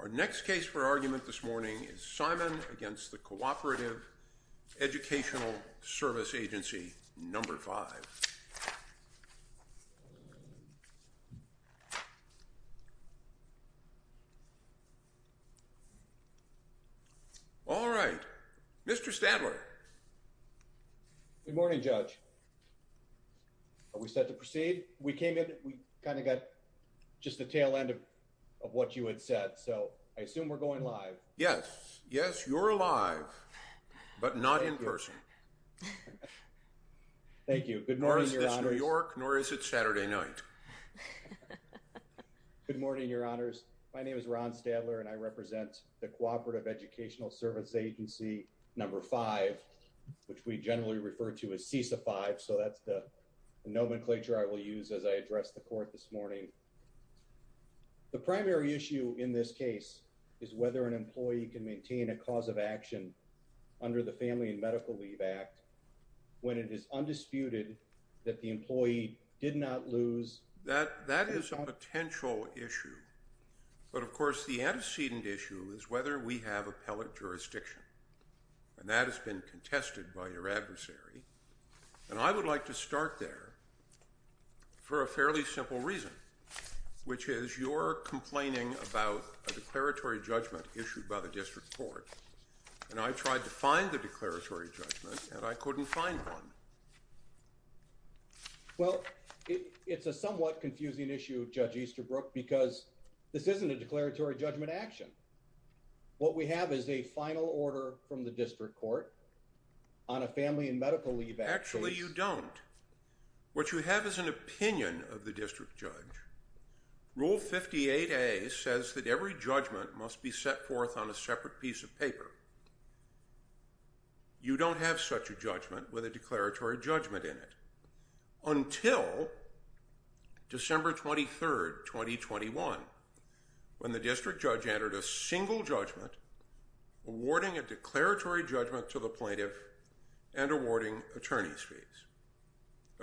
Our next case for argument this morning is Simon against the Cooperative Educational Service Agency, number five. All right, Mr. Stadler. Good morning, Judge. Are we set to proceed? We came in, we kind of got just the tail end of what you had said. So I assume we're going live. Yes. Yes, you're live, but not in person. Thank you. Good morning, Your Honors. Nor is this New York, nor is it Saturday night. Good morning, Your Honors. My name is Ron Stadler, and I represent the Cooperative Educational Service Agency, number five, which we generally refer to as CESA five. So that's the nomenclature I will use as I address the court this morning. The primary issue in this case is whether an employee can maintain a cause of action under the Family and Medical Leave Act when it is undisputed that the employee did not lose That is a potential issue. But of course, the antecedent issue is whether we have appellate jurisdiction, and that has been contested by your adversary. And I would like to start there for a fairly simple reason, which is you're complaining about a declaratory judgment issued by the district court, and I tried to find the declaratory judgment, and I couldn't find one. Well, it's a somewhat confusing issue, Judge Easterbrook, because this isn't a declaratory judgment action. What we have is a final order from the district court on a Family and Medical Leave Act case. Actually, you don't. What you have is an opinion of the district judge. Rule 58A says that every judgment must be set forth on a separate piece of paper. You don't have such a judgment with a declaratory judgment in it until December 23rd, 2021, when the district judge entered a single judgment awarding a declaratory judgment to the plaintiff and awarding attorney's fees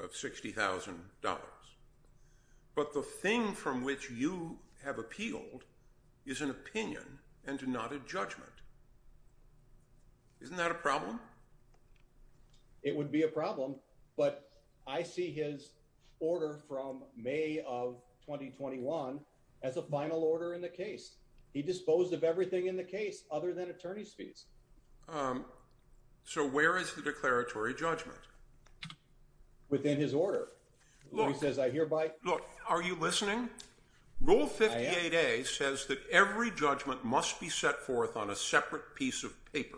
of $60,000. But the thing from which you have appealed is an opinion and not a judgment. Isn't that a problem? It would be a problem, but I see his order from May of 2021 as a final order in the case. He disposed of everything in the case other than attorney's fees. So where is the declaratory judgment? Within his order. He says, I hereby... Look, are you listening? Rule 58A says that every judgment must be set forth on a separate piece of paper.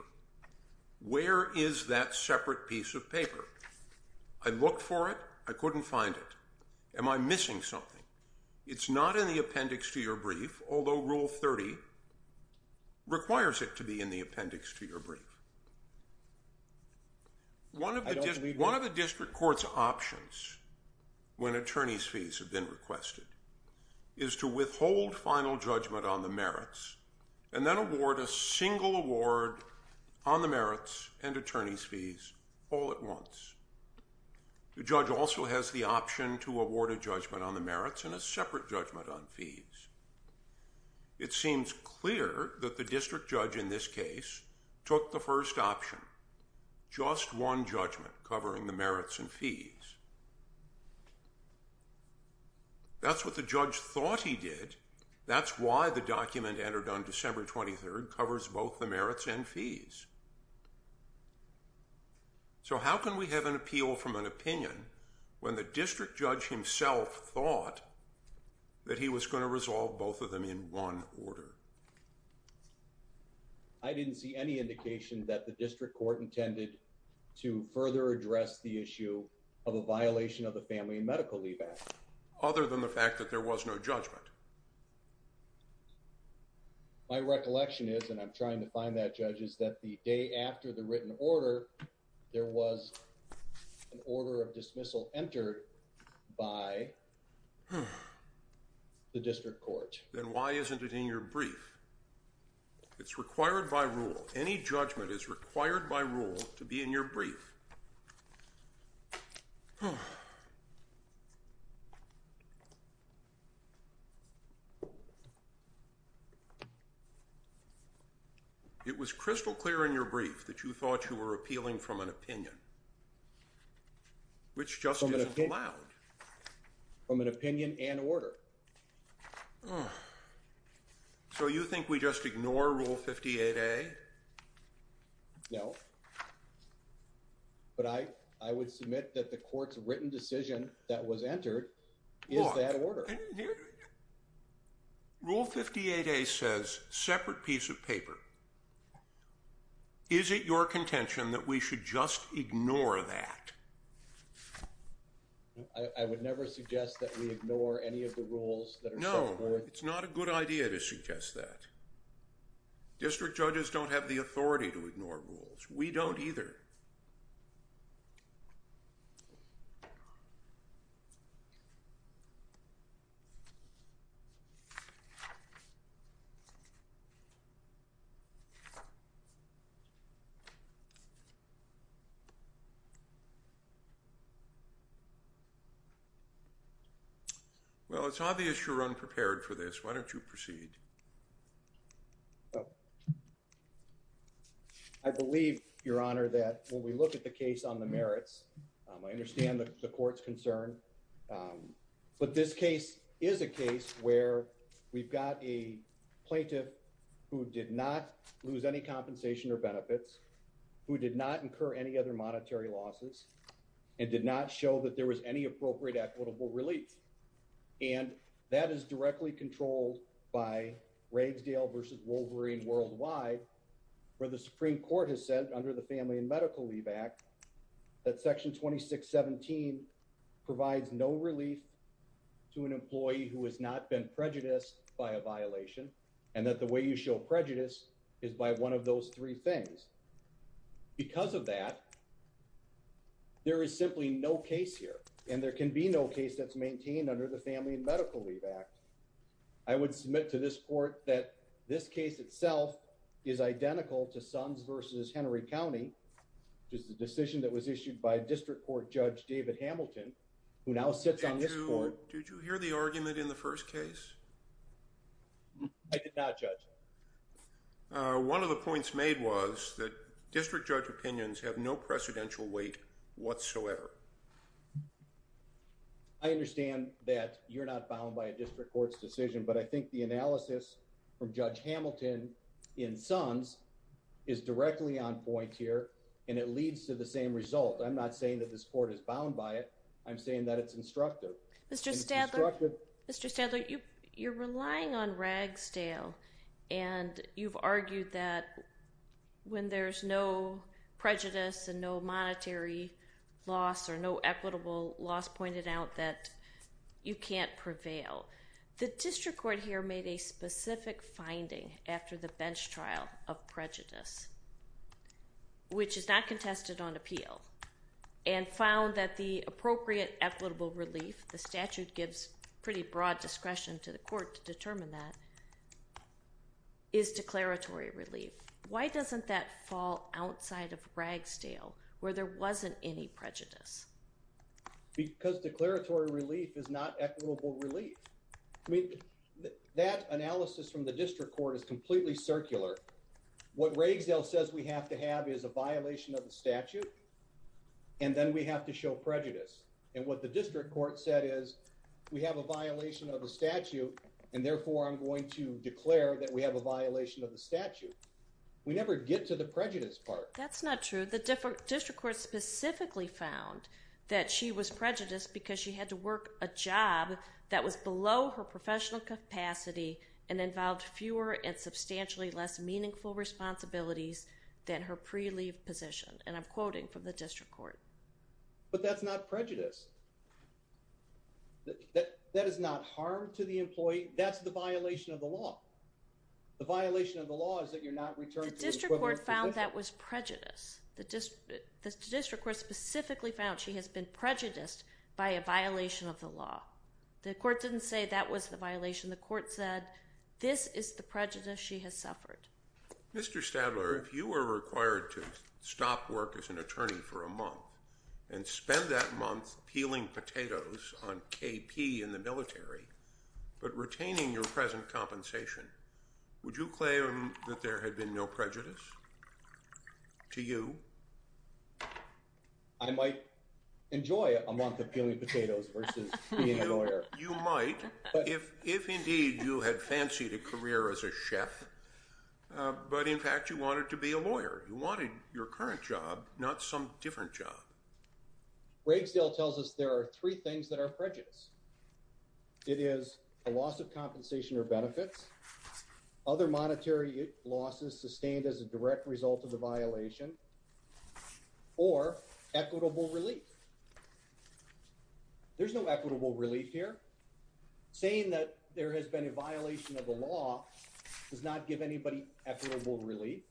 Where is that separate piece of paper? I looked for it. I couldn't find it. Am I missing something? It's not in the appendix to your brief, although Rule 30 requires it to be in the appendix to your brief. One of the district court's options when attorney's fees have been requested is to withhold final judgment on the merits and then award a single award on the merits and attorney's fees all at once. The judge also has the option to award a judgment on the merits and a separate judgment on fees. It seems clear that the district judge in this case took the first option. Just one judgment covering the merits and fees. That's what the judge thought he did. That's why the document entered on December 23rd covers both the merits and fees. So how can we have an appeal from an opinion when the district judge himself thought that he was going to resolve both of them in one order? I didn't see any indication that the district court intended to further address the issue of a violation of the Family and Medical Leave Act. Other than the fact that there was no judgment. My recollection is, and I'm trying to find that, Judge, is that the day after the written order, there was an order of dismissal entered by the district court. Then why isn't it in your brief? It's required by rule. Any judgment is required by rule to be in your brief. It was crystal clear in your brief that you thought you were appealing from an opinion. Which just isn't allowed. From an opinion and order. So you think we just ignore Rule 58A? No. But I would submit that the court's written decision that was entered is that order. Rule 58A says separate piece of paper. Is it your contention that we should just ignore that? I would never suggest that we ignore any of the rules that are set forth. No. It's not a good idea to suggest that. District judges don't have the authority to ignore rules. We don't either. Well, it's obvious you're unprepared for this. Why don't you proceed? I believe, Your Honor, that when we look at the case on the merits, I understand the court's concern. This is a case where we've got a plaintiff who did not lose any compensation or benefits, who did not incur any other monetary losses, and did not show that there was any appropriate equitable relief. And that is directly controlled by Ragsdale v. Wolverine worldwide, where the Supreme Court has said under the Family and Medical Leave Act that Section 2617 provides no relief to an employee who has not been prejudiced by a violation, and that the way you show prejudice is by one of those three things. Because of that, there is simply no case here, and there can be no case that's maintained under the Family and Medical Leave Act. I would submit to this court that this case itself is identical to Sons v. Henry County, which is the decision that was issued by District Court Judge David Hamilton, who now sits on this court. Did you hear the argument in the first case? I did not, Judge. One of the points made was that district judge opinions have no precedential weight whatsoever. I understand that you're not bound by a district court's decision, but I think the analysis from Judge Hamilton in Sons is directly on point here, and it leads to the same result. I'm not saying that this court is bound by it. I'm saying that it's instructive. Mr. Stadler, you're relying on Ragsdale, and you've argued that when there's no prejudice and no monetary loss, or no equitable loss pointed out, that you can't prevail. The district court here made a specific finding after the bench trial of prejudice, which is not contested on appeal, and found that the appropriate equitable relief, the statute gives pretty broad discretion to the court to determine that, is declaratory relief. Why doesn't that fall outside of Ragsdale, where there wasn't any prejudice? Because declaratory relief is not equitable relief. I mean, that analysis from the district court is completely circular. What Ragsdale says we have to have is a violation of the statute, and then we have to show prejudice. And what the district court said is, we have a violation of the statute, and therefore I'm going to declare that we have a violation of the statute. We never get to the prejudice part. That's not true. The district court specifically found that she was prejudiced because she had to work a job that was below her professional capacity and involved fewer and substantially less meaningful responsibilities than her pre-leave position. And I'm quoting from the district court. But that's not prejudice. That is not harm to the employee. That's the violation of the law. The violation of the law is that you're not returned to an equivalent position. The district court found that was prejudice. The district court specifically found she has been prejudiced by a violation of the law. The court didn't say that was the violation. The court said this is the prejudice she has suffered. Mr. Stadler, if you were required to stop work as an attorney for a month and spend that month peeling potatoes on KP in the military but retaining your present compensation, would you claim that there had been no prejudice to you? I might enjoy a month of peeling potatoes versus being a lawyer. You might, if indeed you had fancied a career as a chef, but in fact you wanted to be a lawyer. You wanted your current job, not some different job. Ragsdale tells us there are three things that are prejudice. It is a loss of compensation or benefits, other monetary losses sustained as a direct result of the violation, or equitable relief. There's no equitable relief here. Saying that there has been a violation of the law does not give anybody equitable relief.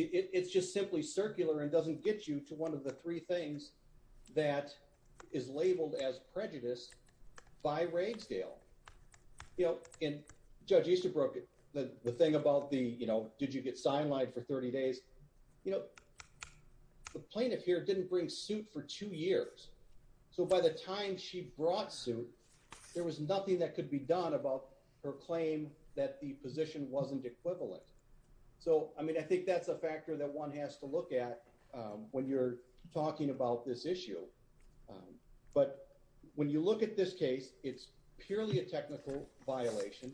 It's just simply circular and doesn't get you to one of the three things that is labeled as prejudice by Ragsdale. You know, and Judge Easterbrook, the thing about the, you know, did you get sign-lined for 30 days? You know, the plaintiff here didn't bring suit for two years. So by the time she brought suit, there was nothing that could be done about her claim that the position wasn't equivalent. So, I mean, I think that's a factor that one has to look at when you're talking about this issue. But when you look at this case, it's purely a technical violation.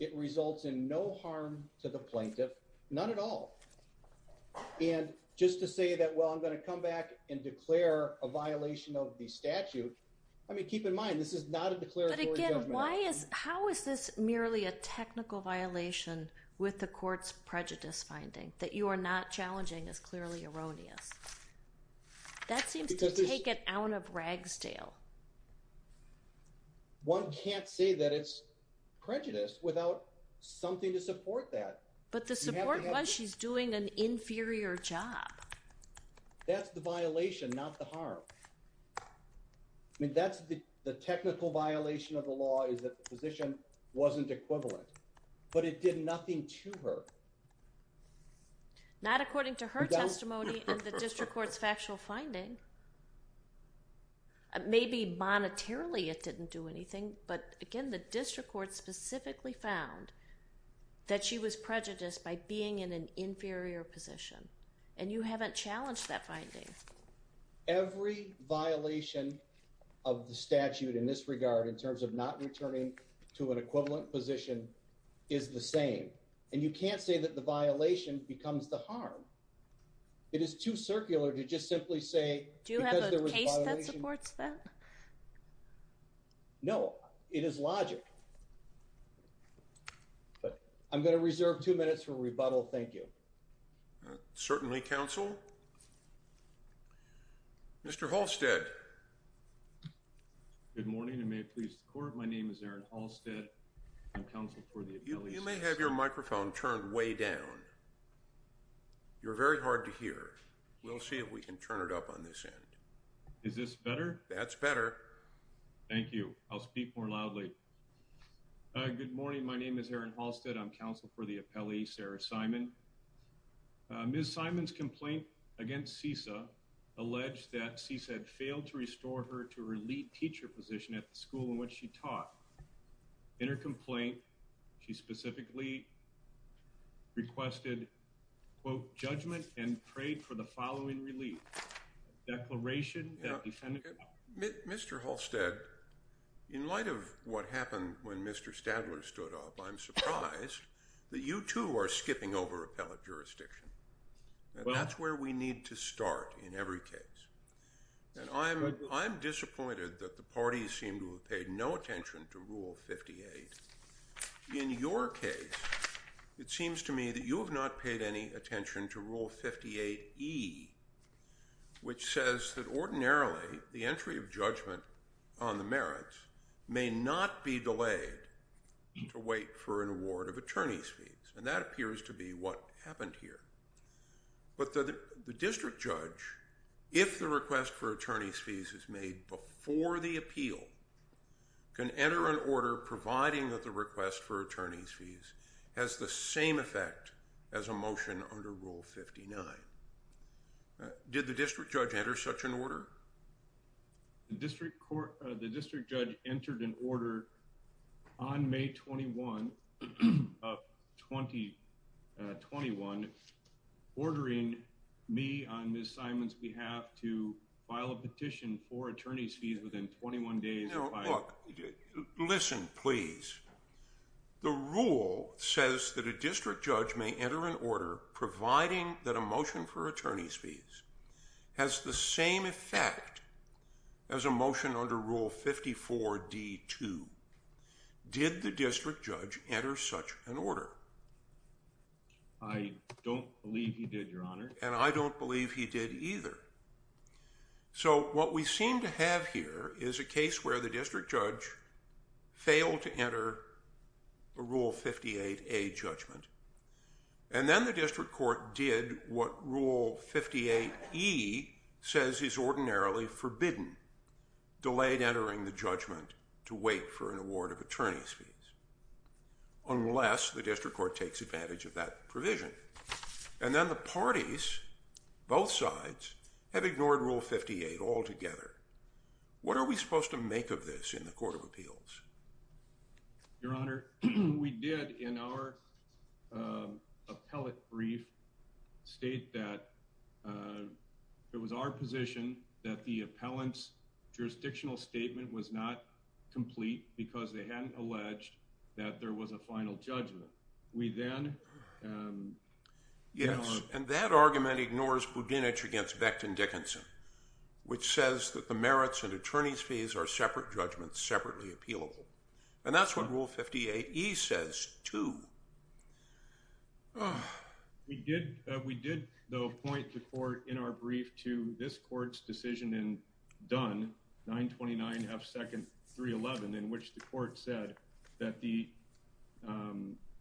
It results in no harm to the plaintiff, not at all. And just to say that, well, I'm going to come back and declare a violation of the statute, I mean, keep in mind, this is not a declaratory judgment. But again, how is this merely a technical violation with the court's prejudice finding? That you are not challenging is clearly erroneous. That seems to take it out of Ragsdale. One can't say that it's prejudice without something to support that. But the support was she's doing an inferior job. That's the violation, not the harm. I mean, that's the technical violation of the law, is that the position wasn't equivalent. But it did nothing to her. Not according to her testimony and the district court's factual finding. Maybe monetarily it didn't do anything, but again, the district court specifically found that she was prejudiced by being in an inferior position. And you haven't challenged that finding. Every violation of the statute in this regard in terms of not returning to an equivalent position is the same. And you can't say that the violation becomes the harm. It is too circular to just simply say... Do you have a case that supports that? No, it is logic. But I'm going to reserve two minutes for rebuttal. Thank you. Certainly, counsel. Mr. Halstead. Good morning and may it please the court. My name is Aaron Halstead. I'm counsel for the... You may have your microphone turned way down. You're very hard to hear. We'll see if we can turn it up on this end. Is this better? That's better. Thank you. I'll speak more loudly. Good morning. My name is Aaron Halstead. I'm counsel for the appellee, Sarah Simon. Ms. Simon's complaint against CESA alleged that CESA had failed to restore her to her lead teacher position at the school in which she taught. In her complaint, she specifically requested, quote, judgment and prayed for the following relief. Declaration that defendant... Mr. Halstead, in light of what happened when Mr. Stadler stood up, I'm surprised that you too are skipping over appellate jurisdiction. And that's where we need to start in every case. And I'm disappointed that the parties seem to have paid no attention to Rule 58. In your case, it seems to me that you have not paid any attention to Rule 58E, which says that ordinarily the entry of judgment on the merits may not be delayed to wait for an award of attorney's fees. And that appears to be what happened here. But the district judge, if the request for attorney's fees is made before the appeal, can enter an order providing that the request for attorney's fees has the same effect as a motion under Rule 59. Did the district judge enter such an order? The district court, the district judge entered an order on May 21 of 2021 ordering me on Ms. Simon's behalf to file a petition for attorney's fees within 21 days of filing... Now, look, listen, please. The rule says that a district judge may enter an order providing that a motion for attorney's fees has the same effect as a motion under Rule 54D2. Did the district judge enter such an order? I don't believe he did, Your Honor. And I don't believe he did either. So what we seem to have here is a case where the district judge failed to enter a Rule 58A judgment. And then the district court did what Rule 58E says is ordinarily forbidden, delayed entering the judgment to wait for an award of attorney's fees, unless the district court takes advantage of that provision. And then the parties, both sides, have ignored Rule 58 altogether. What are we supposed to make of this in the Court of Appeals? Your Honor, we did in our appellate brief state that it was our position that the appellant's jurisdictional statement was not complete because they hadn't alleged that there was a final judgment. We then... Yes, and that argument ignores Budinich against Becton Dickinson, which says that the merits and attorney's fees are separate judgments, separately appealable. And that's what Rule 58E says, too. We did, though, point the court in our brief to this court's decision in Dunn, 929 F. Second 311, in which the court said that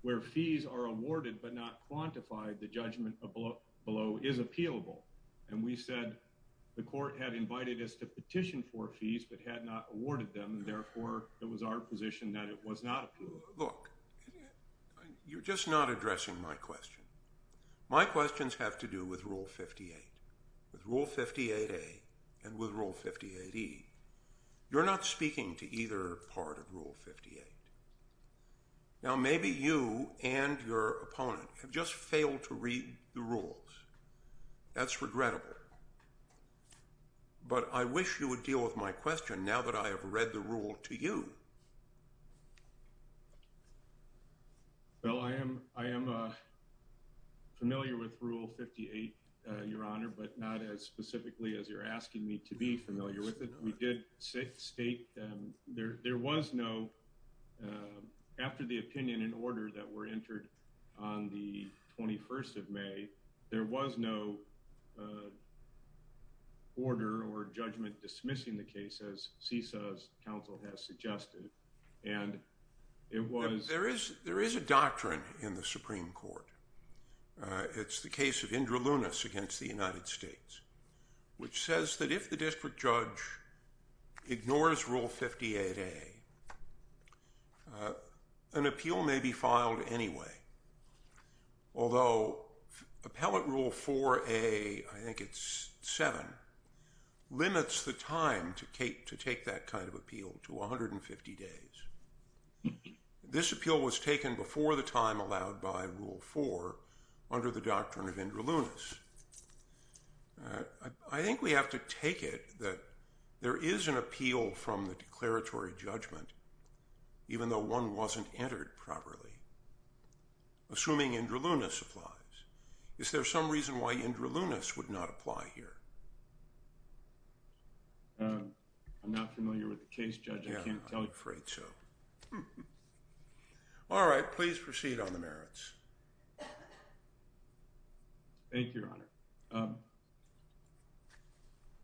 where fees are awarded but not quantified, the judgment below is appealable. And we said the court had invited us to petition for fees but had not awarded them, and therefore it was our position that it was not appealable. Look, you're just not addressing my question. My questions have to do with Rule 58, with Rule 58A and with Rule 58E. You're not speaking to either part of Rule 58. Now, maybe you and your opponent have just failed to read the rules. That's regrettable. But I wish you would deal with my question now that I have read the rule to you. Well, I am familiar with Rule 58, Your Honor, but not as specifically as you're asking me to be familiar with it. We did state there was no, after the opinion and order that were entered on the 21st of May, there was no order or judgment dismissing the case as CESA's counsel has suggested. And it was... There is a doctrine in the Supreme Court. It's the case of Indra Lunas against the United States, which says that if the district judge ignores Rule 58A, an appeal may be filed anyway. Although, Appellate Rule 4A, I think it's 7, limits the time to take that kind of appeal to 150 days. This appeal was taken before the time allowed by Rule 4 under the doctrine of Indra Lunas. I think we have to take it that there is an appeal from the declaratory judgment, even though one wasn't entered properly. Assuming Indra Lunas applies. Is there some reason why Indra Lunas would not apply here? I'm not familiar with the case, Judge, I can't tell you. Yeah, I'm afraid so. All right, please proceed on the merits. Thank you, Your Honor.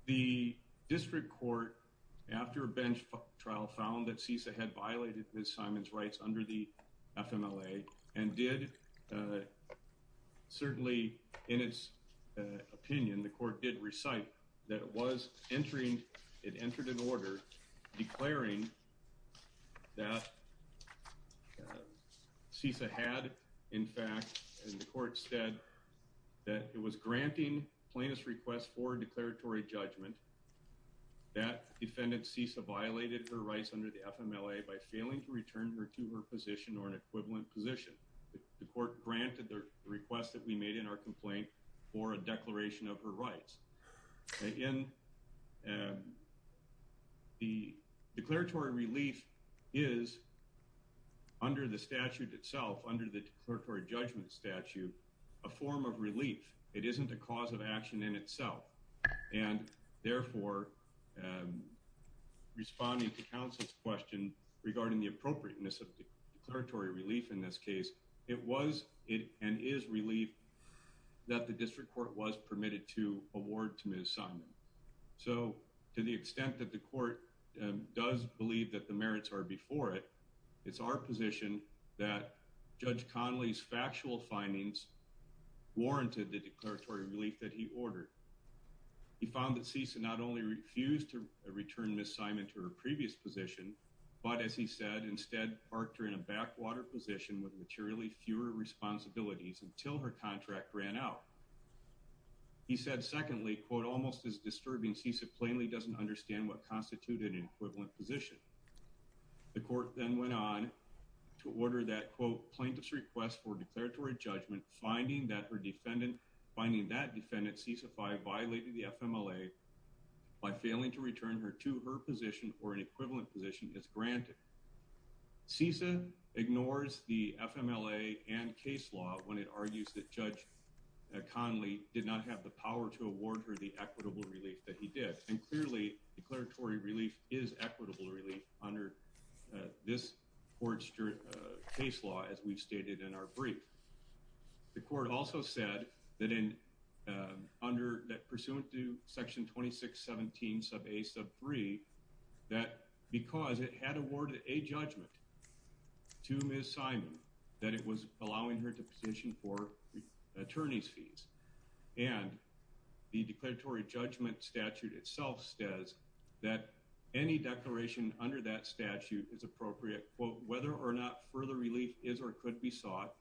The district court, after a bench trial, found that CESA had violated Ms. Simon's rights under the FMLA and did, certainly in its opinion, the court did recite that it was entering, it entered an order declaring that CESA had, in fact, and the court said that it was granting plaintiff's request for declaratory judgment that defendant CESA violated her rights under the FMLA by failing to return her to her position or an equivalent position. The court granted the request that we made in our complaint for a declaration of her rights. In the declaratory relief is, under the statute itself, under the declaratory judgment statute, a form of relief. It isn't a cause of action in itself. And therefore, responding to counsel's question regarding the appropriateness of the declaratory relief in this case, it was and is relief that the district court was permitted to award to Ms. Simon. So to the extent that the court does believe that the merits are before it, it's our position that Judge Conley's factual findings warranted the declaratory relief that he ordered. He found that CESA not only refused to return Ms. Simon to her previous position, but as he said, instead parked her in a backwater position with materially fewer responsibilities until her contract ran out. He said, secondly, quote, almost as disturbing, CESA plainly doesn't understand what constituted an equivalent position. The court then went on to order that quote, plaintiff's request for declaratory judgment, finding that her defendant, finding that defendant CESA 5 violated the FMLA by failing to return her to her position or an equivalent position is granted. CESA ignores the FMLA and case law when it argues that Judge Conley did not have the power to award her the equitable relief that he did. And clearly declaratory relief is equitable relief under this court's case law, as we've stated in our brief. The court also said that in, under that pursuant to section 2617 sub a sub three, that because it had awarded a judgment to Ms. Simon, that it was allowing her to position for attorney's fees. And the declaratory judgment statute itself says that any declaration under that statute is appropriate. Quote, whether or not further relief is, or could be sought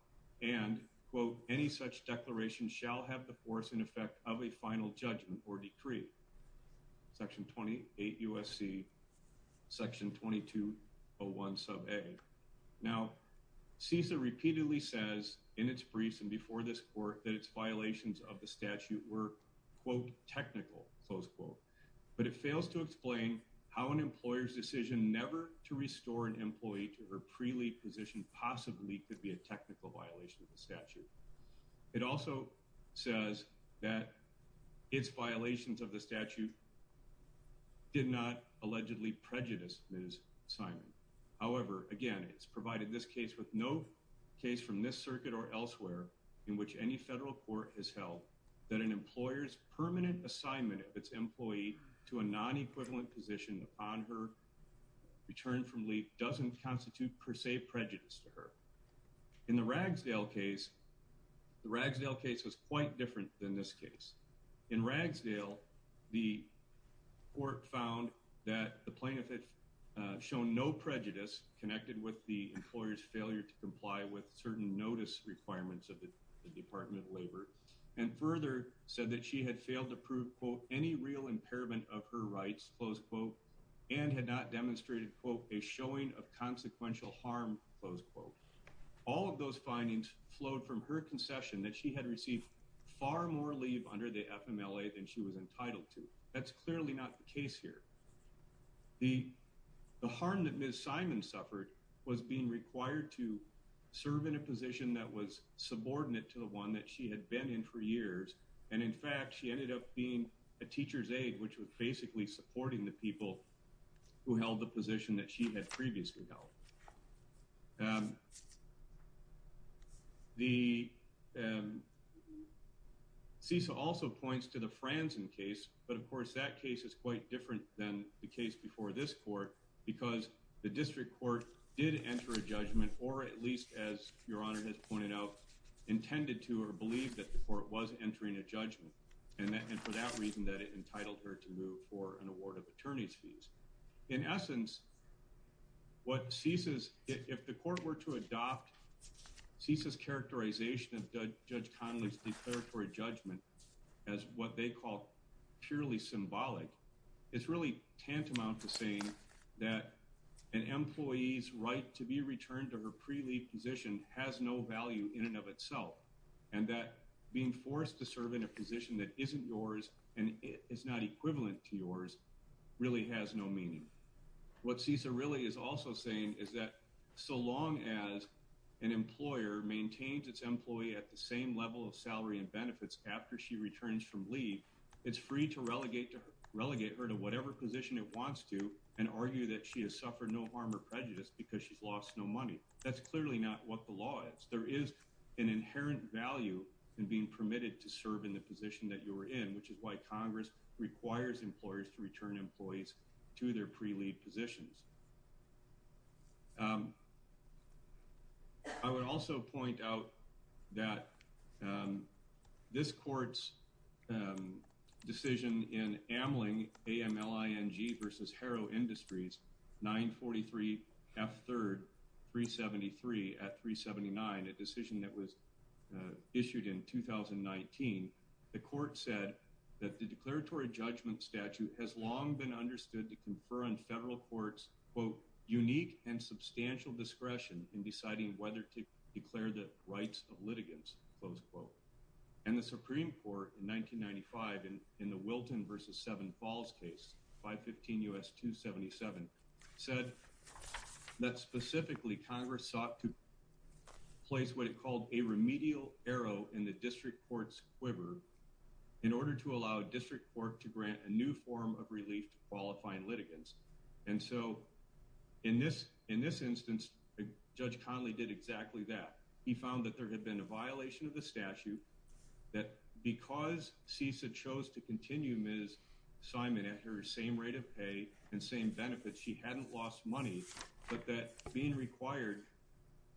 and quote, any such declaration shall have the force and effect of a final judgment or decree. Section 28 USC section 2201 sub a. Now CESA repeatedly says in its briefs and before this court that it's violations of the statute were quote technical close quote, but it fails to explain how an employer's decision never to restore an employee to her pre-leave position could be a technical violation of the statute. It also says that it's violations of the statute did not allegedly prejudice Ms. Simon. However, again, it's provided this case with no case from this circuit or elsewhere in which any federal court has held that an employer's permanent assignment of its employee to a non-equivalent position on her return from leave doesn't constitute per se prejudice to her. In the Ragsdale case, the Ragsdale case was quite different than this case. In Ragsdale, the court found that the plaintiff had shown no prejudice connected with the employer's failure to comply with certain notice requirements of the department of labor and further said that she had failed to prove quote, any real impairment of her rights close quote, and had not demonstrated quote, a showing of consequential harm close quote. All of those findings flowed from her concession that she had received far more leave under the FMLA than she was entitled to. That's clearly not the case here. The harm that Ms. Simon suffered was being required to serve in a position that was subordinate to the one that she had been in for years. And in fact, she ended up being a teacher's aide, which was basically supporting the people who held the position that she had previously held. The CISA also points to the Franzen case, but of course that case is quite different than the case before this court because the district court did enter a judgment or at least as your honor has pointed out, intended to or believe that the court was entering a judgment. And for that reason that it entitled her to move for an award of attorney's fees. In essence, what CISA's, if the court were to adopt CISA's characterization of Judge Connolly's declaratory judgment as what they call purely symbolic, it's really tantamount to saying that an employee's right to be returned to her pre-leave position has no value in and of itself. And that being forced to serve in a position that isn't yours and is not equivalent to yours really has no meaning. What CISA really is also saying is that so long as an employer maintains its employee at the same level of salary and benefits after she returns from leave, it's free to relegate her to whatever position it wants to and argue that she has suffered no harm or prejudice because she's lost no money. That's clearly not what the law is. There is an inherent value in being permitted to serve in the position that you were in, which is why Congress requires employers to return employees to their pre-leave positions. I would also point out that this court's decision in Amling, A-M-L-I-N-G versus Harrow Industries, 943 F3rd 373 at 379, a decision that was issued in 2019, the court said that the declaratory judgment statute had long been understood to confer on federal courts, quote, unique and substantial discretion in deciding whether to declare the rights of litigants, close quote. And the Supreme Court in 1995 in the Wilton versus Seven Falls case 515 U.S. 277 said that specifically Congress sought to place what it called a remedial arrow in the district court's quiver in order to allow a district court to grant a new form of relief to qualifying litigants. And so in this instance, Judge Conley did exactly that. He found that there had been a violation of the statute that because CESA chose to continue Ms. Simon at her same rate of pay and same benefits, she hadn't lost money, but that being required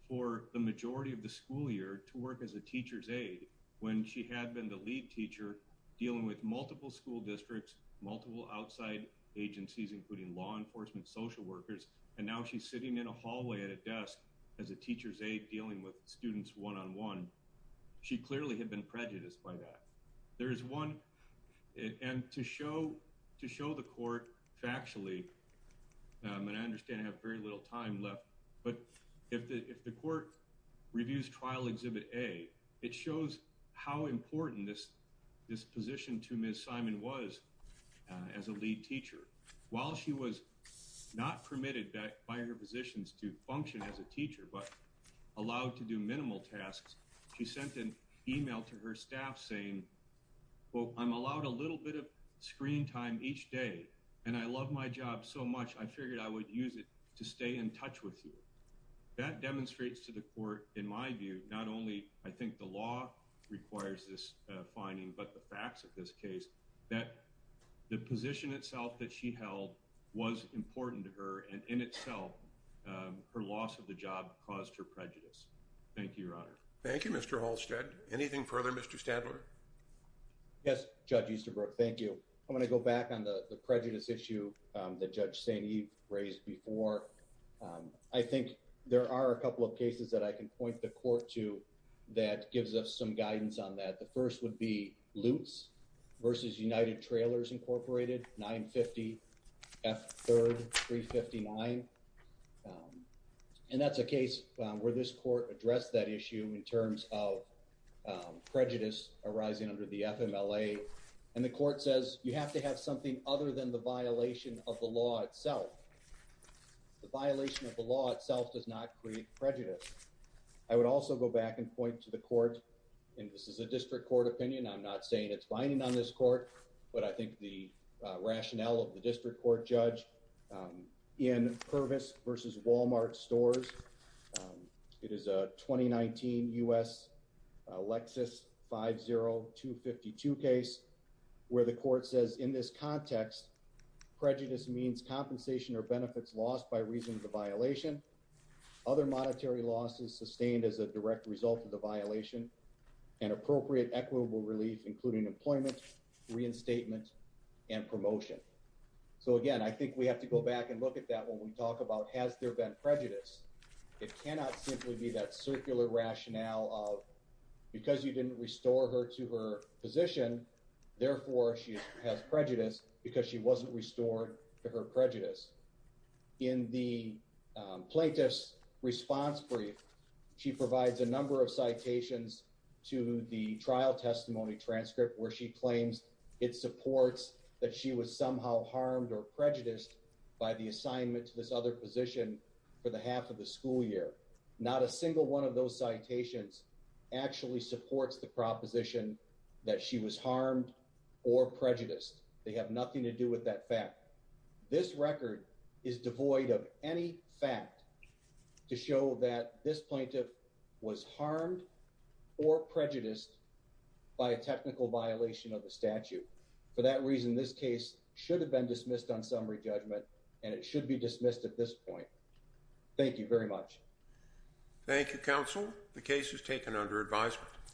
for the majority of the school year to work as a teacher's aide when she had been the lead teacher dealing with multiple school districts, multiple outside agencies, including law enforcement, social workers. And now she's sitting in a hallway at a desk as a teacher's aide dealing with students one-on-one. She clearly had been prejudiced by that. There is one, and to show the court factually, and I understand I have very little time left, but if the court reviews trial exhibit A, it shows how important this position to Ms. Simon was as a lead teacher. While she was not permitted by her positions to function as a teacher, but allowed to do minimal tasks, she sent an email to her staff saying, quote, I'm allowed a little bit of screen time each day, and I love my job so much, I figured I would use it to stay in touch with you. That demonstrates to the court, in my view, not only I think the law requires this finding, but the facts of this case, that the position itself that she held was important to her, and in itself, her loss of the job caused her prejudice. Thank you, Your Honor. Thank you, Mr. Halstead. Anything further, Mr. Stadler? Yes, Judge Easterbrook, thank you. I'm gonna go back on the prejudice issue that Judge St. Eve raised before. I think there are a couple of cases that I can point the court to that gives us some guidance on that. The first would be Lutz versus United Trailers Incorporated, 950F3359. And that's a case where this court addressed that issue in terms of prejudice arising under the FMLA. And the court says, you have to have something other than the violation of the law itself. The violation of the law itself does not create prejudice. I would also go back and point to the court, and this is a district court opinion, I'm not saying it's binding on this court, but I think the rationale of the district court judge in Purvis versus Walmart Stores, it is a 2019 U.S. Lexus 50252 case where the court says, in this context, prejudice means compensation or benefits lost by reason of the violation. Other monetary losses sustained as a direct result of the violation and appropriate equitable relief, including employment, reinstatement and promotion. So again, I think we have to go back and look at that when we talk about has there been prejudice? It cannot simply be that circular rationale of because you didn't restore her to her position, therefore she has prejudice because she wasn't restored to her prejudice. In the plaintiff's response brief, she provides a number of citations to the trial testimony transcript where she claims it supports that she was somehow harmed or prejudiced by the assignment to this other position for the half of the school year. Not a single one of those citations actually supports the proposition that she was harmed or prejudiced. They have nothing to do with that fact. This record is devoid of any fact to show that this plaintiff was harmed or prejudiced by a technical violation of the statute. For that reason, this case should have been dismissed on summary judgment and it should be dismissed at this point. Thank you very much. Thank you, counsel. The case is taken under advisement.